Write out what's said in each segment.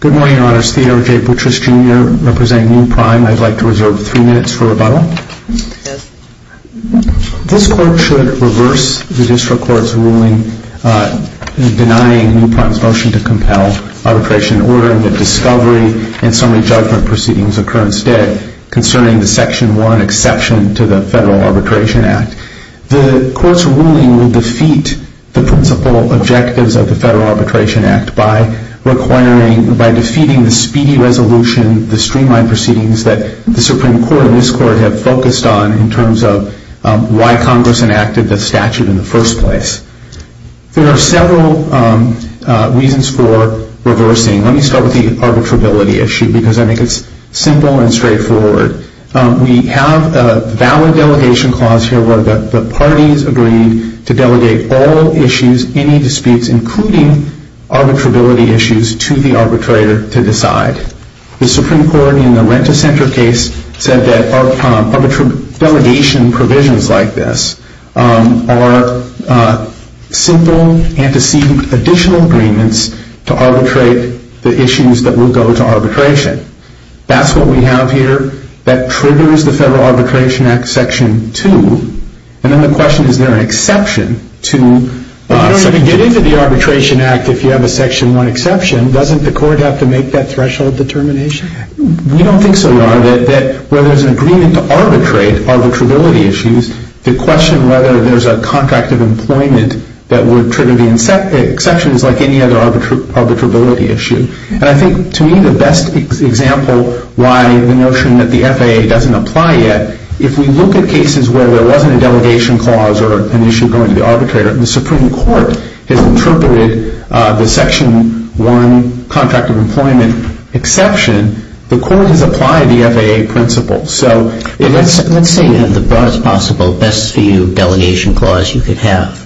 Good morning, Your Honors. Theodore J. Butriss, Jr., representing New Prime. I'd like to reserve three minutes for rebuttal. This Court should reverse the District Court's ruling denying New Prime's motion to compel arbitration ordering that discovery and summary judgment proceedings occur instead, concerning the Section 1 exception to the Federal Arbitration Act. The Court's ruling would defeat the principal objectives of the Federal Arbitration Act by defeating the speedy resolution, the streamlined proceedings that the Supreme Court and this Court have focused on in terms of why Congress enacted the statute in the first place. There are several reasons for reversing. Let me start with the arbitrability issue because I think it's simple and straightforward. We have a valid delegation clause here where the parties agree to delegate all issues, any disputes including arbitrability issues, to the arbitrator to decide. The Supreme Court in the Rent-a-Center case said that delegation provisions like this are simple and to seek additional agreements to arbitrate the issues that will go to arbitration. That's what we have here. That triggers the Federal Arbitration Act Section 2. And then the question, is there an exception to Section 2? But you don't even get into the Arbitration Act if you have a Section 1 exception. Doesn't the Court have to make that threshold determination? We don't think so, Your Honor, that where there's an agreement to arbitrate arbitrability issues, to question whether there's a contract of employment that would trigger the exception is like any other arbitrability issue. And I think to me the best example why the notion that the FAA doesn't apply yet, if we look at cases where there wasn't a delegation clause or an issue going to the arbitrator, the Supreme Court has interpreted the Section 1 contract of employment exception. The Court has applied the FAA principle. So let's say you have the broadest possible, best view delegation clause you could have,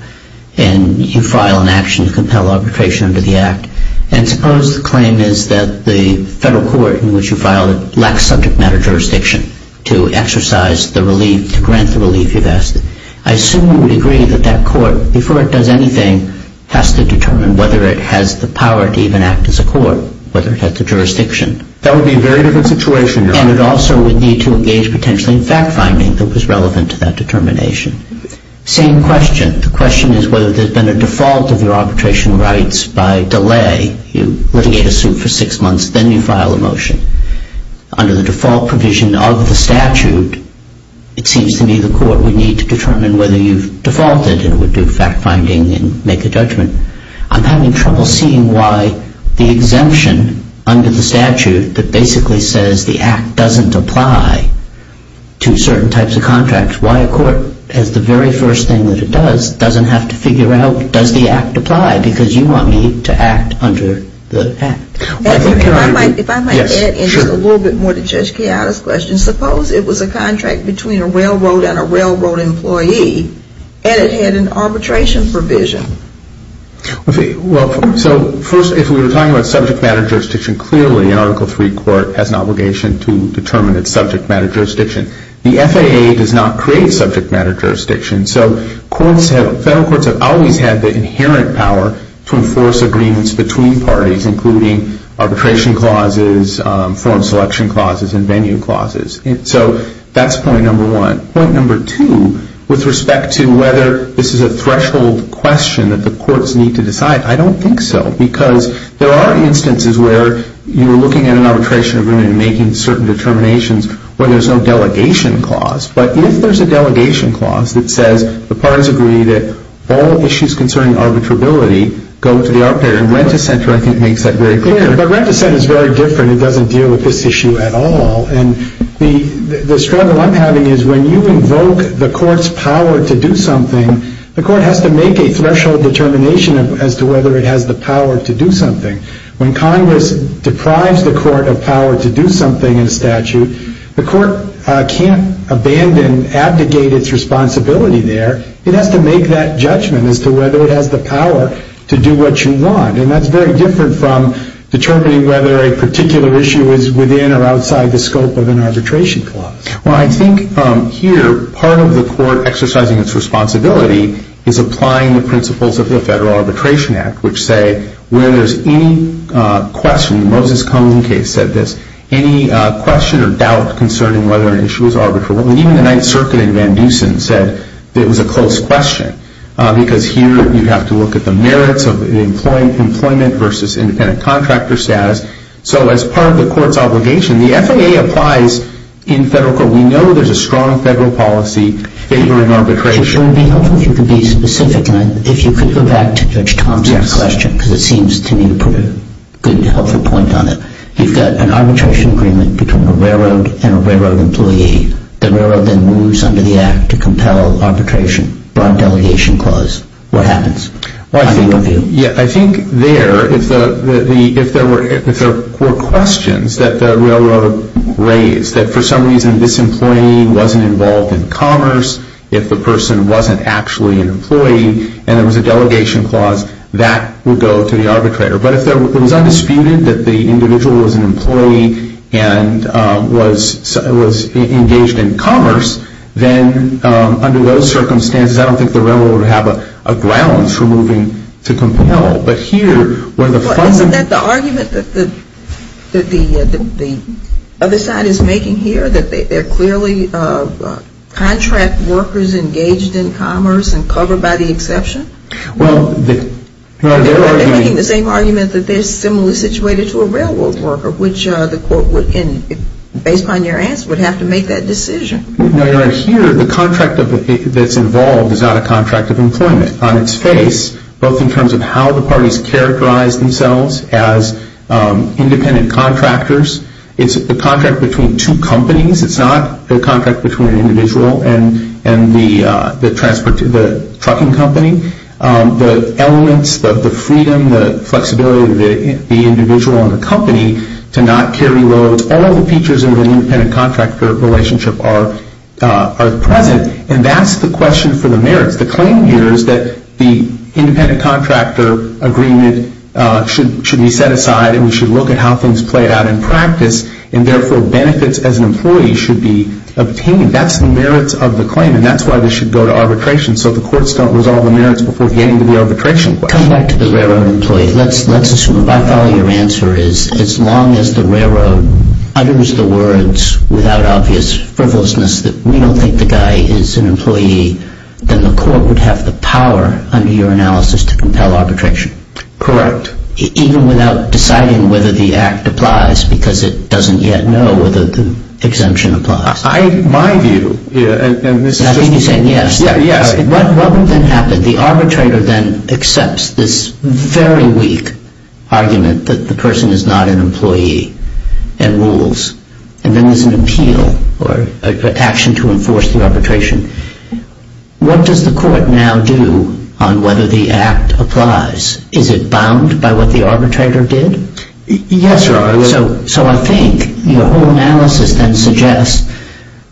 and you file an action to compel arbitration under the Act. And suppose the claim is that the Federal Court in which you filed it lacks subject matter jurisdiction to exercise the relief, to grant the relief you've asked. I assume you would agree that that Court, before it does anything, has to determine whether it has the power to even act as a court, whether it has the jurisdiction. That would be a very different situation, Your Honor. And it also would need to engage potentially in fact-finding that was relevant to that determination. Same question. The question is whether there's been a default of your arbitration rights by delay. You litigate a suit for six months, then you file a motion. Under the default provision of the statute, it seems to me the Court would need to determine whether you've defaulted and would do fact-finding and make a judgment. I'm having trouble seeing why the exemption under the statute that basically says the Act doesn't apply to certain types of contracts, why a court, as the very first thing that it does, doesn't have to figure out does the Act apply because you want me to act under the Act. If I might add in just a little bit more to Judge Chiara's question, suppose it was a contract between a railroad and a railroad employee and it had an arbitration provision. So first, if we were talking about subject matter jurisdiction, clearly an Article III court has an obligation to determine its subject matter jurisdiction. The FAA does not create subject matter jurisdiction, so federal courts have always had the inherent power to enforce agreements between parties, including arbitration clauses, form selection clauses, and venue clauses. So that's point number one. Point number two, with respect to whether this is a threshold question that the courts need to decide, I don't think so because there are instances where you're looking at an arbitration agreement and making certain determinations where there's no delegation clause. But if there's a delegation clause that says the parties agree that all issues concerning arbitrability go to the arbitrator, and Rent-A-Center, I think, makes that very clear. But Rent-A-Center is very different. It doesn't deal with this issue at all. And the struggle I'm having is when you invoke the court's power to do something, the court has to make a threshold determination as to whether it has the power to do something. When Congress deprives the court of power to do something in statute, the court can't abandon, abdicate its responsibility there. It has to make that judgment as to whether it has the power to do what you want. And that's very different from determining whether a particular issue is within or outside the scope of an arbitration clause. Well, I think here part of the court exercising its responsibility is applying the principles of the Federal Arbitration Act, which say where there's any question, the Moses-Cohen case said this, any question or doubt concerning whether an issue is arbitrable. And even the Ninth Circuit in Van Dusen said it was a close question because here you have to look at the merits of employment versus independent contractor status. So as part of the court's obligation, the FAA applies in federal court. We know there's a strong federal policy favoring arbitration. It would be helpful if you could be specific, and if you could go back to Judge Thompson's question because it seems to me you put a good, helpful point on it. You've got an arbitration agreement between a railroad and a railroad employee. The railroad then moves under the act to compel arbitration or a delegation clause. What happens? I think there, if there were questions that the railroad raised, that for some reason this employee wasn't involved in commerce, if the person wasn't actually an employee and there was a delegation clause, that would go to the arbitrator. But if it was undisputed that the individual was an employee and was engaged in commerce, then under those circumstances I don't think the railroad would have a grounds for moving to compel. No. But here where the funds Well, isn't that the argument that the other side is making here, that they're clearly contract workers engaged in commerce and covered by the exception? Well, they're arguing They're making the same argument that they're similarly situated to a railroad worker, which the court would, based upon your answer, would have to make that decision. No, you're right. Here, the contract that's involved is not a contract of employment on its face, both in terms of how the parties characterize themselves as independent contractors. It's a contract between two companies. It's not a contract between an individual and the trucking company. The elements, the freedom, the flexibility of the individual and the company to not carry loads, all the features of an independent contractor relationship are present, and that's the question for the merits. The claim here is that the independent contractor agreement should be set aside and we should look at how things play out in practice, and therefore benefits as an employee should be obtained. That's the merits of the claim, and that's why this should go to arbitration, so the courts don't resolve the merits before getting to the arbitration question. Come back to the railroad employee. Let's assume, if I follow your answer, as long as the railroad utters the words without obvious frivolousness that we don't think the guy is an employee, then the court would have the power, under your analysis, to compel arbitration. Correct. Even without deciding whether the act applies, because it doesn't yet know whether the exemption applies. In my view, and this is just me saying this. I think you're saying yes. Yes. What would then happen? The arbitrator then accepts this very weak argument that the person is not an employee and rules, and then there's an appeal or action to enforce the arbitration. What does the court now do on whether the act applies? Is it bound by what the arbitrator did? Yes, Your Honor. So I think your whole analysis then suggests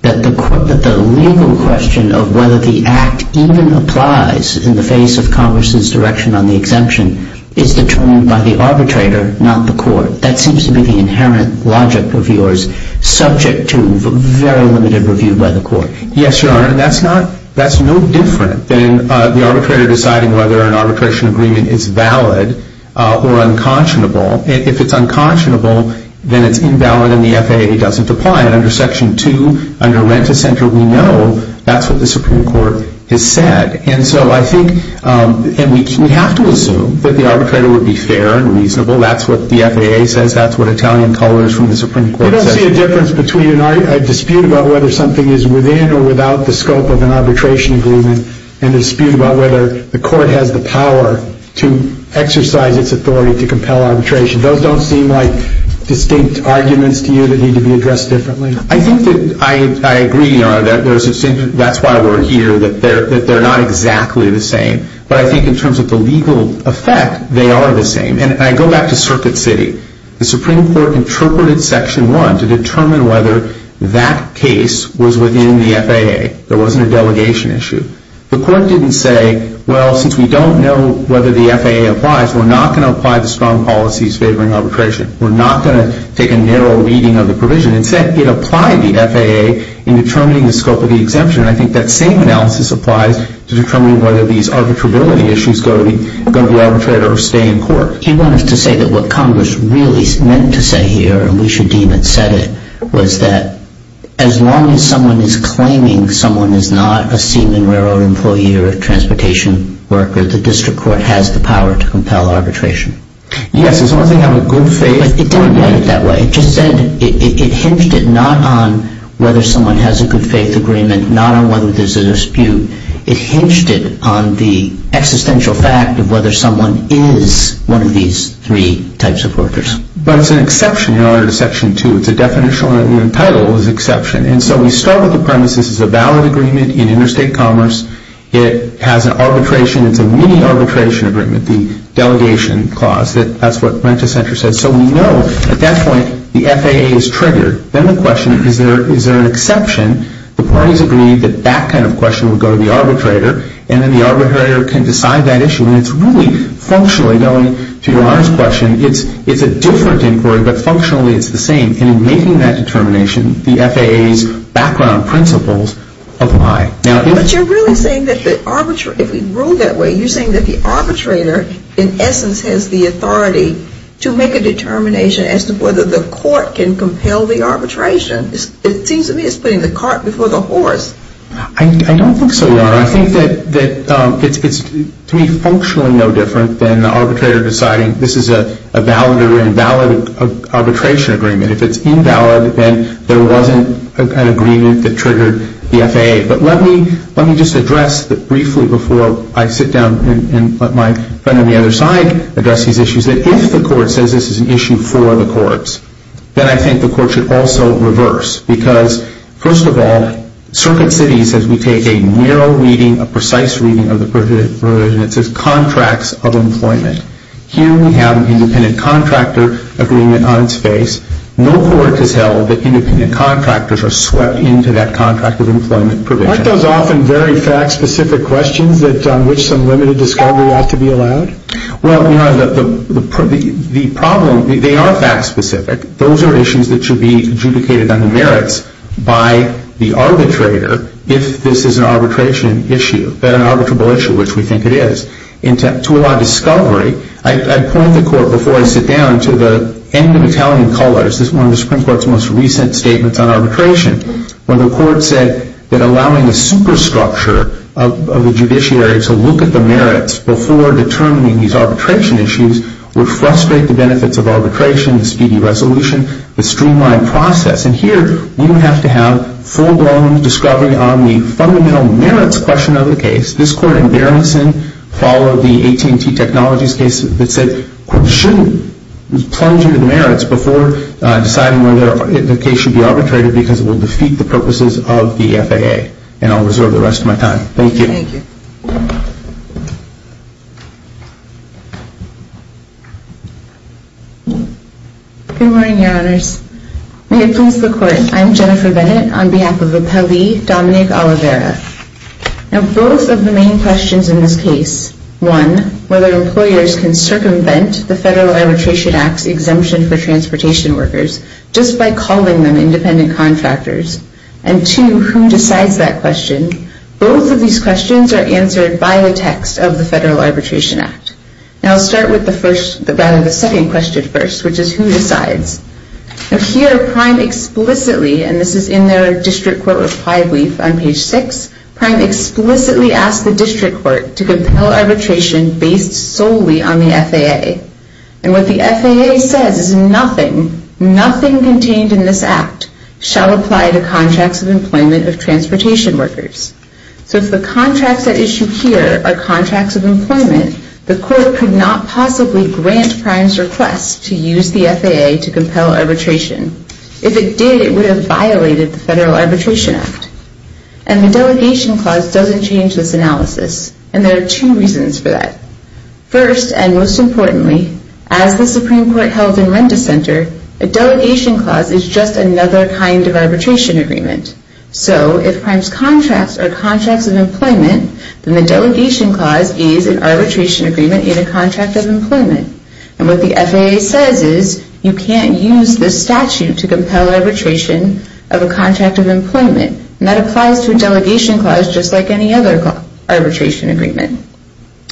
that the legal question of whether the act even applies in the face of Congress's direction on the exemption is determined by the arbitrator, not the court. That seems to be the inherent logic of yours, subject to very limited review by the court. Yes, Your Honor. That's no different than the arbitrator deciding whether an arbitration agreement is valid or unconscionable. If it's unconscionable, then it's invalid and the FAA doesn't apply it. Under Section 2, under Rent-a-Center, we know that's what the Supreme Court has said. And so I think we have to assume that the arbitrator would be fair and reasonable. That's what the FAA says. That's what Italian colors from the Supreme Court says. I don't see a difference between a dispute about whether something is within or without the scope of an arbitration agreement and a dispute about whether the court has the power to exercise its authority to compel arbitration. Those don't seem like distinct arguments to you that need to be addressed differently. I think that I agree, Your Honor, that that's why we're here, that they're not exactly the same. But I think in terms of the legal effect, they are the same. And I go back to Circuit City. The Supreme Court interpreted Section 1 to determine whether that case was within the FAA. There wasn't a delegation issue. The court didn't say, well, since we don't know whether the FAA applies, we're not going to apply the strong policies favoring arbitration. We're not going to take a narrow reading of the provision. Instead, it applied the FAA in determining the scope of the exemption. And I think that same analysis applies to determining whether these arbitrability issues are going to be arbitrated or stay in court. You want us to say that what Congress really meant to say here, and we should deem it said it, was that as long as someone is claiming someone is not a Seaman railroad employee or a transportation worker, the district court has the power to compel arbitration. Yes, as long as they have a good faith... But it didn't write it that way. It just said it hinged it not on whether someone has a good faith agreement, not on whether there's a dispute. It hinged it on the existential fact of whether someone is one of these three types of workers. But it's an exception in order to Section 2. It's a definitional, and the title is exception. And so we start with the premise this is a valid agreement in interstate commerce. It has an arbitration. It's a mini-arbitration agreement, the delegation clause. That's what Rent-A-Center said. So we know at that point the FAA is triggered. Then the question, is there an exception? The parties agreed that that kind of question would go to the arbitrator, and then the arbitrator can decide that issue. And it's really functionally, going to Your Honor's question, it's a different inquiry, but functionally it's the same. And in making that determination, the FAA's background principles apply. But you're really saying that if we rule that way, you're saying that the arbitrator in essence has the authority to make a determination as to whether the court can compel the arbitration. It seems to me it's putting the cart before the horse. I don't think so, Your Honor. I think that it's to me functionally no different than the arbitrator deciding this is a valid or invalid arbitration agreement. If it's invalid, then there wasn't an agreement that triggered the FAA. Okay, but let me just address briefly before I sit down and let my friend on the other side address these issues, that if the court says this is an issue for the courts, then I think the court should also reverse. Because, first of all, Circuit City says we take a narrow reading, a precise reading of the provision that says contracts of employment. Here we have an independent contractor agreement on its face. No court has held that independent contractors are swept into that contract of employment provision. Aren't those often very fact-specific questions on which some limited discovery ought to be allowed? Well, Your Honor, the problem, they are fact-specific. Those are issues that should be adjudicated under merits by the arbitrator if this is an arbitration issue, an arbitrable issue, which we think it is. To allow discovery, I point the court before I sit down to the end of Italian colors, this is one of the Supreme Court's most recent statements on arbitration, where the court said that allowing a superstructure of the judiciary to look at the merits before determining these arbitration issues would frustrate the benefits of arbitration, the speedy resolution, the streamlined process. And here we have to have full-blown discovery on the fundamental merits question of the case. This court in Berengson followed the AT&T Technologies case that said, we shouldn't plunge into the merits before deciding whether the case should be arbitrated because it will defeat the purposes of the FAA. And I'll reserve the rest of my time. Thank you. Thank you. Good morning, Your Honors. May it please the Court, I'm Jennifer Bennett on behalf of Appellee Dominic Oliveira. Now both of the main questions in this case, one, whether employers can circumvent the Federal Arbitration Act's exemption for transportation workers just by calling them independent contractors. And two, who decides that question? Both of these questions are answered by the text of the Federal Arbitration Act. Now I'll start with the first, rather the second question first, which is who decides? Now here, Prime explicitly, and this is in their district court reply brief on page 6, Prime explicitly asked the district court to compel arbitration based solely on the FAA. And what the FAA says is nothing, nothing contained in this act, shall apply to contracts of employment of transportation workers. So if the contracts at issue here are contracts of employment, the court could not possibly grant Prime's request to use the FAA to compel arbitration. If it did, it would have violated the Federal Arbitration Act. And the delegation clause doesn't change this analysis. And there are two reasons for that. First, and most importantly, as the Supreme Court held in Renda Center, a delegation clause is just another kind of arbitration agreement. So if Prime's contracts are contracts of employment, then the delegation clause is an arbitration agreement in a contract of employment. And what the FAA says is you can't use this statute to compel arbitration of a contract of employment. And that applies to a delegation clause just like any other arbitration agreement.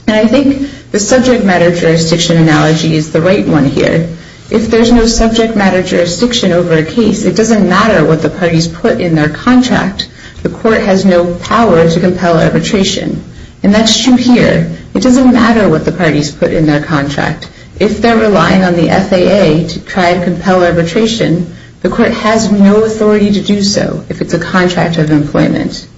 And I think the subject matter jurisdiction analogy is the right one here. If there's no subject matter jurisdiction over a case, it doesn't matter what the parties put in their contract. The court has no power to compel arbitration. And that's true here. It doesn't matter what the parties put in their contract. If they're relying on the FAA to try and compel arbitration, the court has no authority to do so if it's a contract of employment.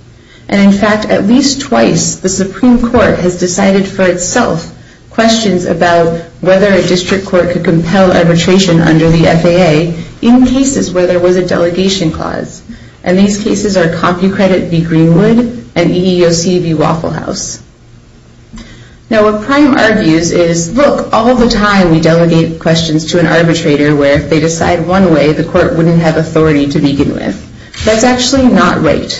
And in fact, at least twice the Supreme Court has decided for itself questions about whether a district court could compel arbitration under the FAA in cases where there was a delegation clause. And these cases are CompuCredit v. Greenwood and EEOC v. Waffle House. Now what Prime argues is, look, all the time we delegate questions to an arbitrator where if they decide one way, the court wouldn't have authority to begin with. That's actually not right.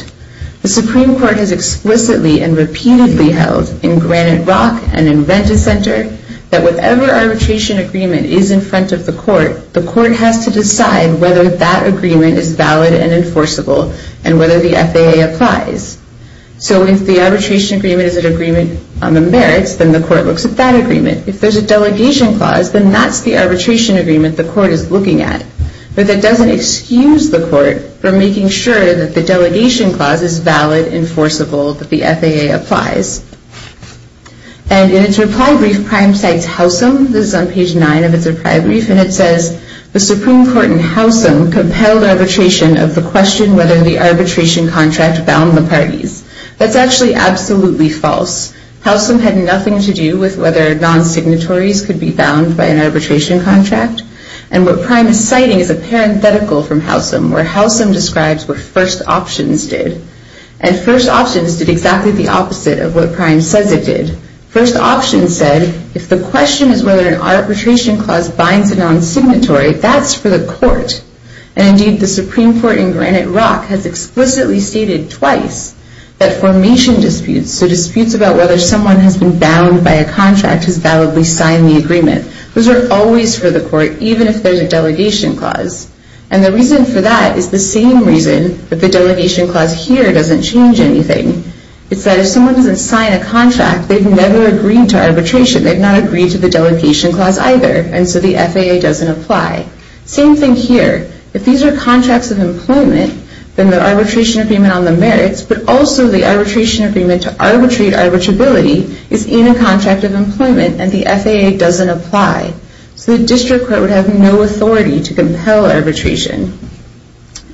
The Supreme Court has explicitly and repeatedly held in Granite Rock and in Venticenter that whatever arbitration agreement is in front of the court, the court has to decide whether that agreement is valid and enforceable and whether the FAA applies. So if the arbitration agreement is an agreement on the merits, then the court looks at that agreement. If there's a delegation clause, then that's the arbitration agreement the court is looking at. But that doesn't excuse the court from making sure that the delegation clause is valid, enforceable, that the FAA applies. And in its reply brief, Prime cites Howsam. This is on page 9 of its reply brief, and it says, The Supreme Court in Howsam compelled arbitration of the question whether the arbitration contract bound the parties. That's actually absolutely false. Howsam had nothing to do with whether non-signatories could be bound by an arbitration contract. And what Prime is citing is a parenthetical from Howsam where Howsam describes what first options did. And first options did exactly the opposite of what Prime says it did. First options said, If the question is whether an arbitration clause binds a non-signatory, that's for the court. And indeed, the Supreme Court in Granite Rock has explicitly stated twice that formation disputes, so disputes about whether someone has been bound by a contract, has validly signed the agreement. Those are always for the court, even if there's a delegation clause. And the reason for that is the same reason that the delegation clause here doesn't change anything. It's that if someone doesn't sign a contract, they've never agreed to arbitration. They've not agreed to the delegation clause either, and so the FAA doesn't apply. Same thing here. If these are contracts of employment, then the arbitration agreement on the merits, but also the arbitration agreement to arbitrate arbitrability, is in a contract of employment, and the FAA doesn't apply. So the district court would have no authority to compel arbitration.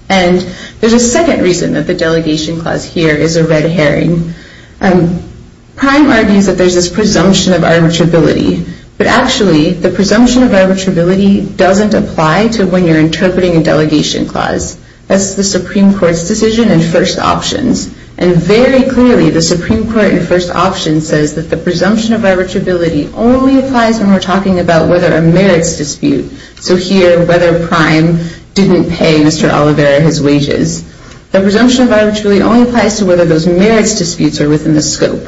And there's a second reason that the delegation clause here is a red herring. Prime argues that there's this presumption of arbitrability. But actually, the presumption of arbitrability doesn't apply to when you're interpreting a delegation clause. That's the Supreme Court's decision in first options. And very clearly, the Supreme Court in first options says that the presumption of arbitrability only applies when we're talking about whether a merits dispute. So here, whether Prime didn't pay Mr. Olivera his wages. The presumption of arbitrability only applies to whether those merits disputes are within the scope.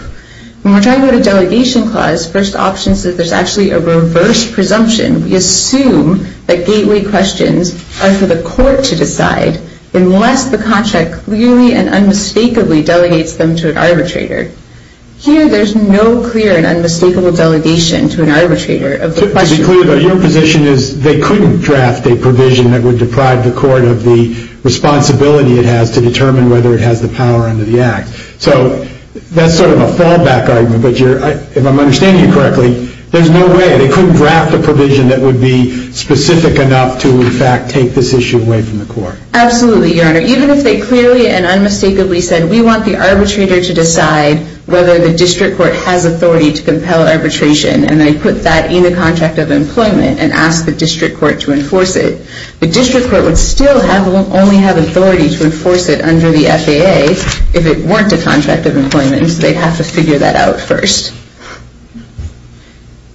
When we're talking about a delegation clause, first options says there's actually a reverse presumption. We assume that gateway questions are for the court to decide, unless the contract clearly and unmistakably delegates them to an arbitrator. Here, there's no clear and unmistakable delegation to an arbitrator of the question. It's clear that your position is they couldn't draft a provision that would deprive the court of the responsibility it has to determine whether it has the power under the act. So that's sort of a fallback argument, but if I'm understanding you correctly, there's no way. They couldn't draft a provision that would be specific enough to, in fact, take this issue away from the court. Absolutely, Your Honor. Even if they clearly and unmistakably said, we want the arbitrator to decide whether the district court has authority to compel arbitration, and they put that in the contract of employment and asked the district court to enforce it, the district court would still only have authority to enforce it under the FAA if it weren't a contract of employment, and so they'd have to figure that out first.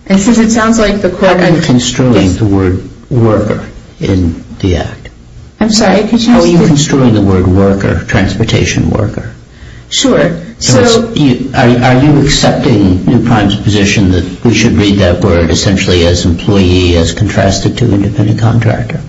And since it sounds like the court... How are you construing the word worker in the act? I'm sorry, could you ask the... How are you construing the word worker, transportation worker? Sure, so... Are you accepting New Prime's position that we should read that word essentially as employee as contrasted to independent contractor?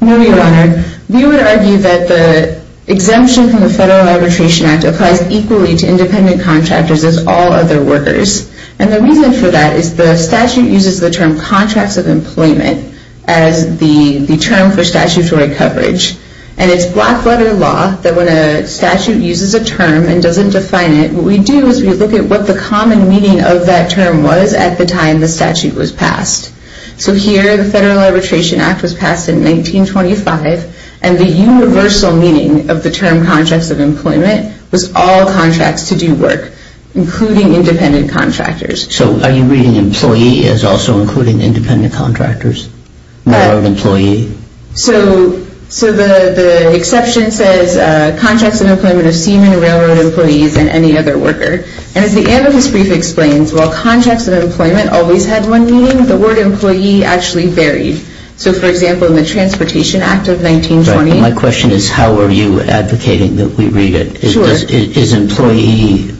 No, Your Honor. We would argue that the exemption from the Federal Arbitration Act applies equally to independent contractors as all other workers, and the reason for that is the statute uses the term contracts of employment as the term for statutory coverage, and it's Blackwater law that when a statute uses a term and doesn't define it, what we do is we look at what the common meaning of that term was at the time the statute was passed. So here the Federal Arbitration Act was passed in 1925, and the universal meaning of the term contracts of employment was all contracts to do work, including independent contractors. So are you reading employee as also including independent contractors? More of employee? So the exception says contracts of employment of seamen, railroad employees, and any other worker, and as the amicus brief explains, while contracts of employment always had one meaning, the word employee actually varied. So for example, in the Transportation Act of 1920... Right, and my question is how are you advocating that we read it? Sure. Is employee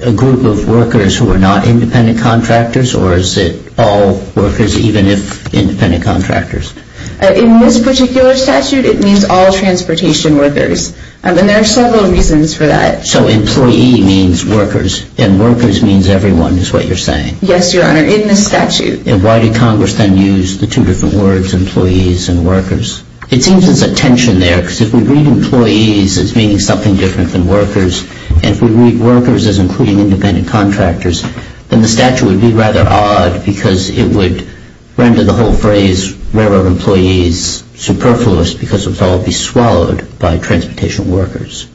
a group of workers who are not independent contractors, or is it all workers even if independent contractors? In this particular statute, it means all transportation workers, and there are several reasons for that. So employee means workers, and workers means everyone is what you're saying. Yes, Your Honor, in the statute. And why did Congress then use the two different words, employees and workers? It seems there's a tension there because if we read employees as meaning something different than workers, and if we read workers as including independent contractors, then the statute would be rather odd because it would render the whole phrase railroad employees superfluous because it would all be swallowed by transportation workers.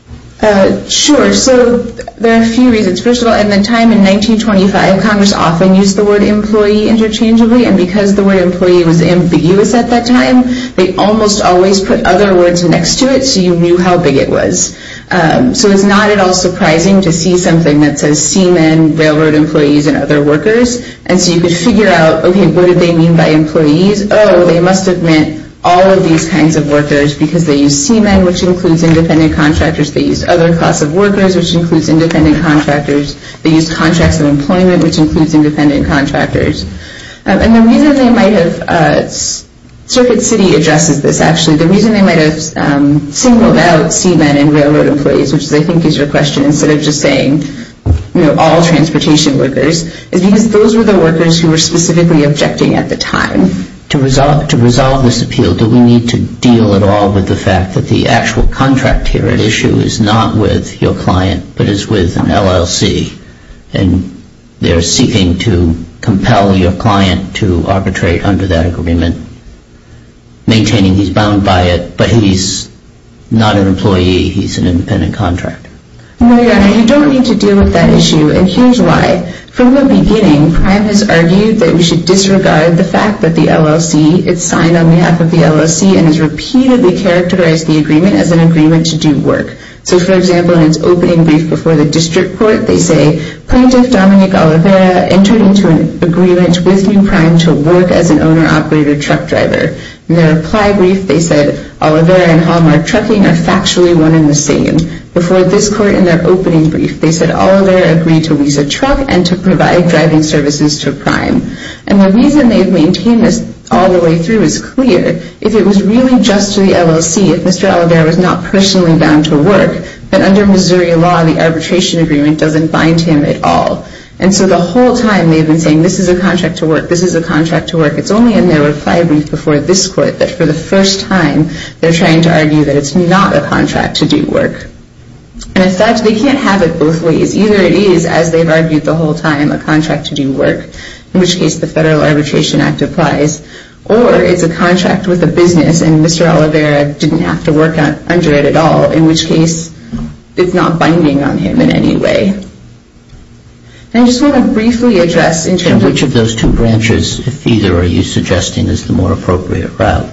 Sure, so there are a few reasons. First of all, at the time in 1925, Congress often used the word employee interchangeably, and because the word employee was ambiguous at that time, they almost always put other words next to it so you knew how big it was. So it's not at all surprising to see something that says seamen, railroad employees, and other workers, and so you could figure out, okay, what did they mean by employees? Oh, they must have meant all of these kinds of workers because they used seamen, which includes independent contractors. They used other class of workers, which includes independent contractors. They used contracts of employment, which includes independent contractors. And the reason they might have...Circuit City addresses this, actually. The reason they might have singled out seamen and railroad employees, which I think is your question, instead of just saying all transportation workers, is because those were the workers who were specifically objecting at the time. To resolve this appeal, do we need to deal at all with the fact that the actual contract here at issue is not with your client but is with an LLC, and they're seeking to compel your client to arbitrate under that agreement, maintaining he's bound by it, but he's not an employee. He's an independent contractor. No, Your Honor, you don't need to deal with that issue, and here's why. From the beginning, Prime has argued that we should disregard the fact that the LLC, it's signed on behalf of the LLC and has repeatedly characterized the agreement as an agreement to do work. So, for example, in its opening brief before the district court, they say, Plaintiff Dominic Oliveira entered into an agreement with New Prime to work as an owner-operated truck driver. In their reply brief, they said, Oliveira and Hallmark Trucking are factually one and the same. Before this court in their opening brief, they said, Oliveira agreed to lease a truck and to provide driving services to Prime. And the reason they've maintained this all the way through is clear. If it was really just to the LLC, if Mr. Oliveira was not personally bound to work, then under Missouri law, the arbitration agreement doesn't bind him at all. And so the whole time they've been saying, this is a contract to work, this is a contract to work, it's only in their reply brief before this court that for the first time, they're trying to argue that it's not a contract to do work. And as such, they can't have it both ways. Either it is, as they've argued the whole time, a contract to do work, in which case the Federal Arbitration Act applies, or it's a contract with a business and Mr. Oliveira didn't have to work under it at all, in which case it's not binding on him in any way. And I just want to briefly address in terms of... And which of those two branches, if either, are you suggesting is the more appropriate route?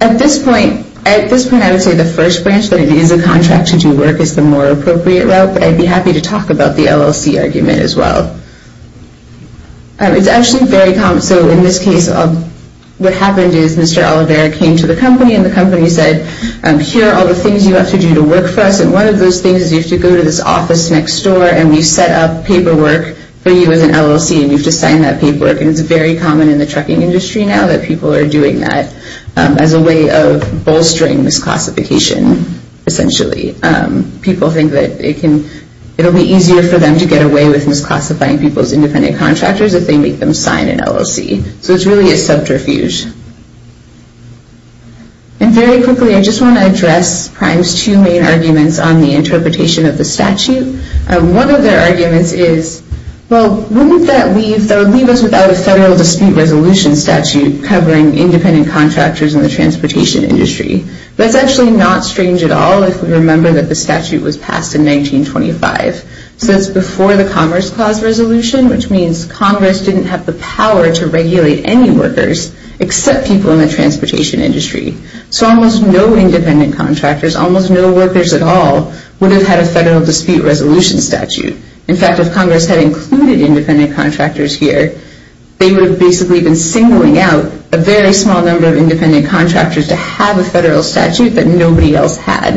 At this point, I would say the first branch, that it is a contract to do work, is the more appropriate route, but I'd be happy to talk about the LLC argument as well. It's actually very common. So in this case, what happened is Mr. Oliveira came to the company, and the company said, here are all the things you have to do to work for us, and one of those things is you have to go to this office next door, and we set up paperwork for you as an LLC, and you have to sign that paperwork. And it's very common in the trucking industry now that people are doing that as a way of bolstering misclassification, essentially. People think that it will be easier for them to get away with misclassifying people as independent contractors if they make them sign an LLC. So it's really a subterfuge. And very quickly, I just want to address Prime's two main arguments on the interpretation of the statute. One of their arguments is, well, wouldn't that leave us without a federal dispute resolution statute covering independent contractors in the transportation industry? That's actually not strange at all if we remember that the statute was passed in 1925. So that's before the Commerce Clause resolution, which means Congress didn't have the power to regulate any workers except people in the transportation industry. So almost no independent contractors, almost no workers at all, would have had a federal dispute resolution statute. In fact, if Congress had included independent contractors here, they would have basically been singling out a very small number of independent contractors to have a federal statute that nobody else had.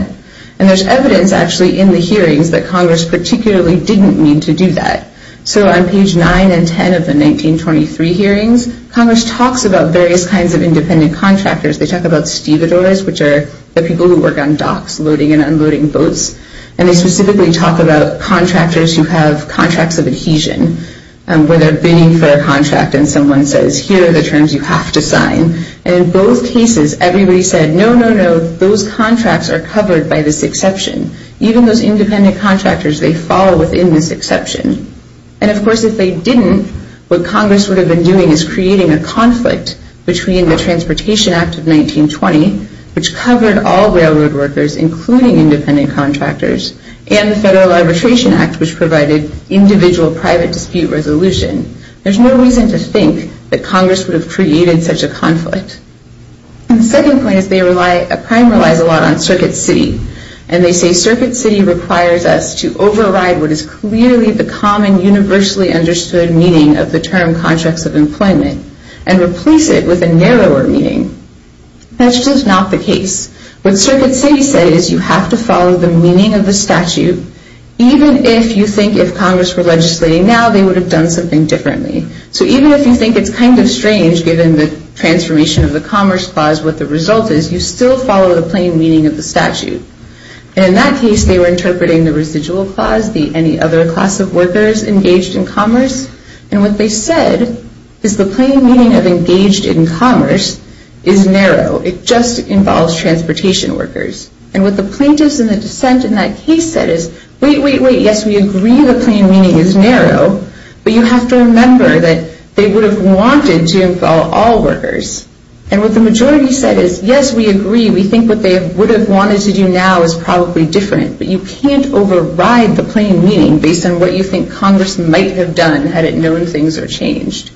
And there's evidence actually in the hearings that Congress particularly didn't mean to do that. So on page 9 and 10 of the 1923 hearings, Congress talks about various kinds of independent contractors. They talk about stevedores, which are the people who work on docks loading and unloading boats. And they specifically talk about contractors who have contracts of adhesion, where they're bidding for a contract and someone says, here are the terms you have to sign. And in both cases, everybody said, no, no, no, those contracts are covered by this exception. Even those independent contractors, they fall within this exception. And of course, if they didn't, what Congress would have been doing is creating a conflict between the Transportation Act of 1920, which covered all railroad workers, including independent contractors, and the Federal Arbitration Act, which provided individual private dispute resolution. There's no reason to think that Congress would have created such a conflict. And the second point is a crime relies a lot on Circuit City. And they say Circuit City requires us to override what is clearly the common, universally understood meaning of the term contracts of employment and replace it with a narrower meaning. That's just not the case. What Circuit City said is you have to follow the meaning of the statute, even if you think if Congress were legislating now, they would have done something differently. So even if you think it's kind of strange, given the transformation of the Commerce Clause, what the result is, you still follow the plain meaning of the statute. And in that case, they were interpreting the residual clause, the any other class of workers engaged in commerce. And what they said is the plain meaning of engaged in commerce is narrow. It just involves transportation workers. And what the plaintiffs in the dissent in that case said is, wait, wait, wait, yes, we agree the plain meaning is narrow, but you have to remember that they would have wanted to involve all workers. And what the majority said is, yes, we agree, we think what they would have wanted to do now is probably different, but you can't override the plain meaning based on what you think Congress might have done had it known things are changed.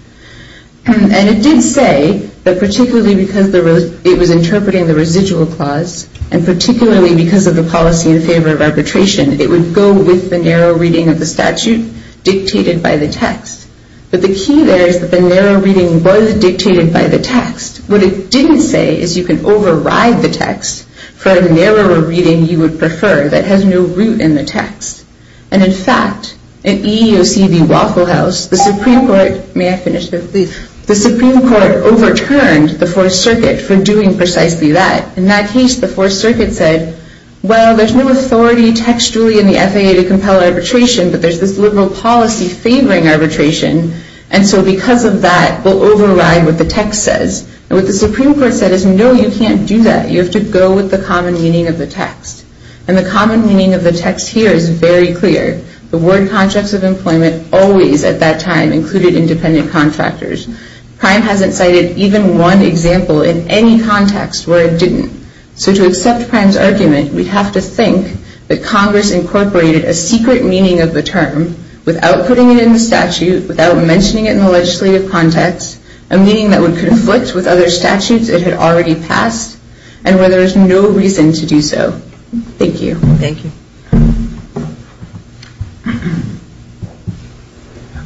And it did say that particularly because it was interpreting the residual clause and particularly because of the policy in favor of arbitration, it would go with the narrow reading of the statute dictated by the text. But the key there is that the narrow reading was dictated by the text. What it didn't say is you can override the text for a narrower reading you would prefer that has no root in the text. And in fact, in EEOC v. Waffle House, the Supreme Court overturned the Fourth Circuit for doing precisely that. In that case, the Fourth Circuit said, well, there's no authority textually in the FAA to compel arbitration, but there's this liberal policy favoring arbitration, and so because of that, we'll override what the text says. And what the Supreme Court said is, no, you can't do that. You have to go with the common meaning of the text. And the common meaning of the text here is very clear. The word contracts of employment always at that time included independent contractors. Prime hasn't cited even one example in any context where it didn't. So to accept Prime's argument, we'd have to think that Congress incorporated a secret meaning of the term without putting it in the statute, without mentioning it in the legislative context, a meaning that would conflict with other statutes it had already passed, and where there is no reason to do so. Thank you. Thank you.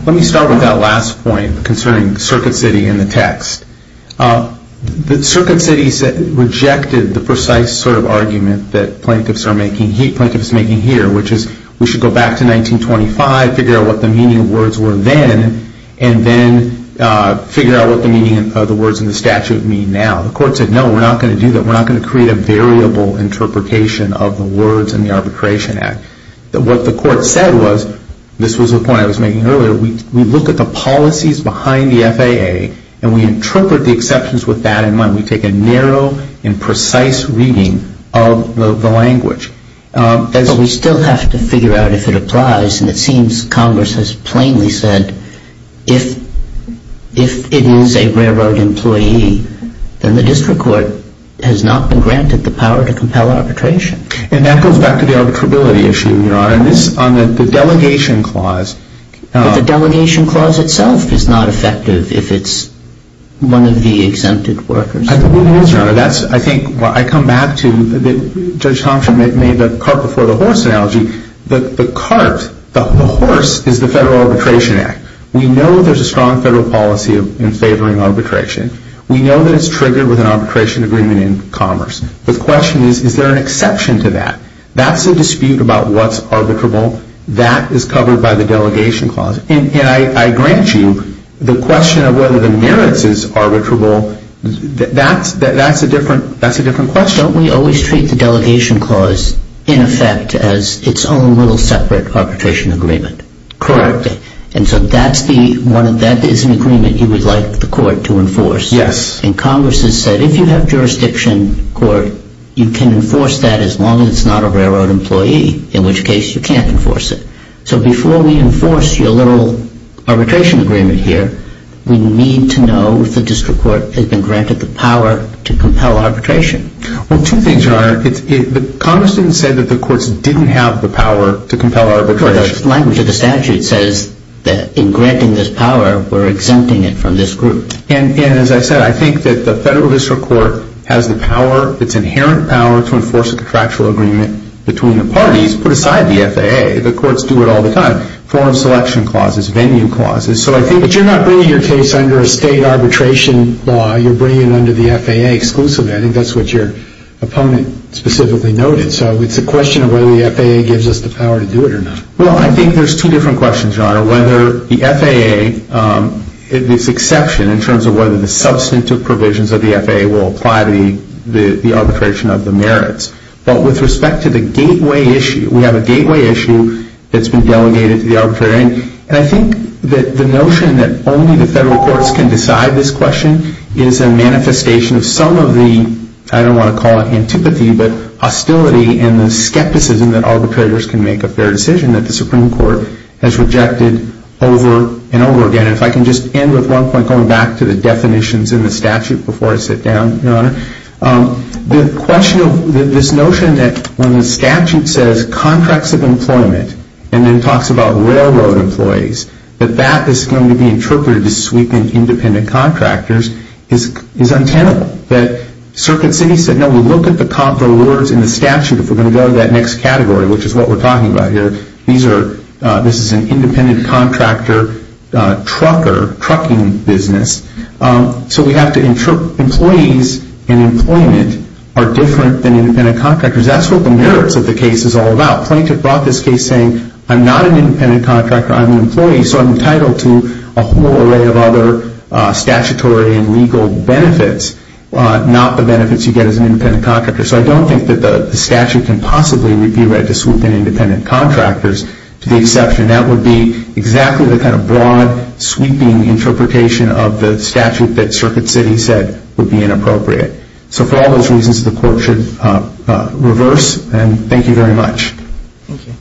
Let me start with that last point concerning Circuit City and the text. The Circuit City rejected the precise sort of argument that plaintiffs are making here, which is we should go back to 1925, figure out what the meaning of words were then, and then figure out what the meaning of the words in the statute mean now. The court said, no, we're not going to do that. We're not going to create a variable interpretation of the words in the Arbitration Act. What the court said was, this was a point I was making earlier, we look at the policies behind the FAA and we interpret the exceptions with that in mind. We take a narrow and precise reading of the language. But we still have to figure out if it applies. And it seems Congress has plainly said if it is a railroad employee, then the district court has not been granted the power to compel arbitration. And that goes back to the arbitrability issue, Your Honor. On the delegation clause. But the delegation clause itself is not effective if it's one of the exempted workers. I think it is, Your Honor. I think I come back to Judge Thompson made the cart before the horse analogy. The cart, the horse, is the Federal Arbitration Act. We know there's a strong federal policy in favoring arbitration. We know that it's triggered with an arbitration agreement in commerce. The question is, is there an exception to that? That's a dispute about what's arbitrable. That is covered by the delegation clause. And I grant you the question of whether the merits is arbitrable, that's a different question. Don't we always treat the delegation clause in effect as its own little separate arbitration agreement? Correct. And so that is an agreement you would like the court to enforce? Yes. And Congress has said if you have jurisdiction court, you can enforce that as long as it's not a railroad employee, in which case you can't enforce it. So before we enforce your little arbitration agreement here, we need to know if the district court has been granted the power to compel arbitration. Well, two things, Your Honor. Congress didn't say that the courts didn't have the power to compel arbitration. The language of the statute says that in granting this power, we're exempting it from this group. And as I said, I think that the federal district court has the power, its inherent power to enforce a contractual agreement between the parties, put aside the FAA. The courts do it all the time, form selection clauses, venue clauses. But you're not bringing your case under a state arbitration law. You're bringing it under the FAA exclusively. I think that's what your opponent specifically noted. So it's a question of whether the FAA gives us the power to do it or not. Well, I think there's two different questions, Your Honor. One is whether the FAA, this exception in terms of whether the substantive provisions of the FAA will apply to the arbitration of the merits. But with respect to the gateway issue, we have a gateway issue that's been delegated to the arbitration. And I think that the notion that only the federal courts can decide this question is a manifestation of some of the, I don't want to call it antipathy, but hostility and the skepticism that arbitrators can make a fair decision that the Supreme Court has rejected over and over again. And if I can just end with one point, going back to the definitions in the statute before I sit down, Your Honor. The question of this notion that when the statute says contracts of employment and then talks about railroad employees, that that is going to be interpreted as sweeping independent contractors is untenable. That Circuit City said, no, we look at the words in the statute if we're going to go to that next category, which is what we're talking about here. This is an independent contractor trucker, trucking business. So we have to, employees and employment are different than independent contractors. That's what the merits of the case is all about. Plaintiff brought this case saying, I'm not an independent contractor, I'm an employee, so I'm entitled to a whole array of other statutory and legal benefits, not the benefits you get as an independent contractor. So I don't think that the statute can possibly review it as sweeping independent contractors to the exception that would be exactly the kind of broad, sweeping interpretation of the statute that Circuit City said would be inappropriate. So for all those reasons, the Court should reverse, and thank you very much. Thank you.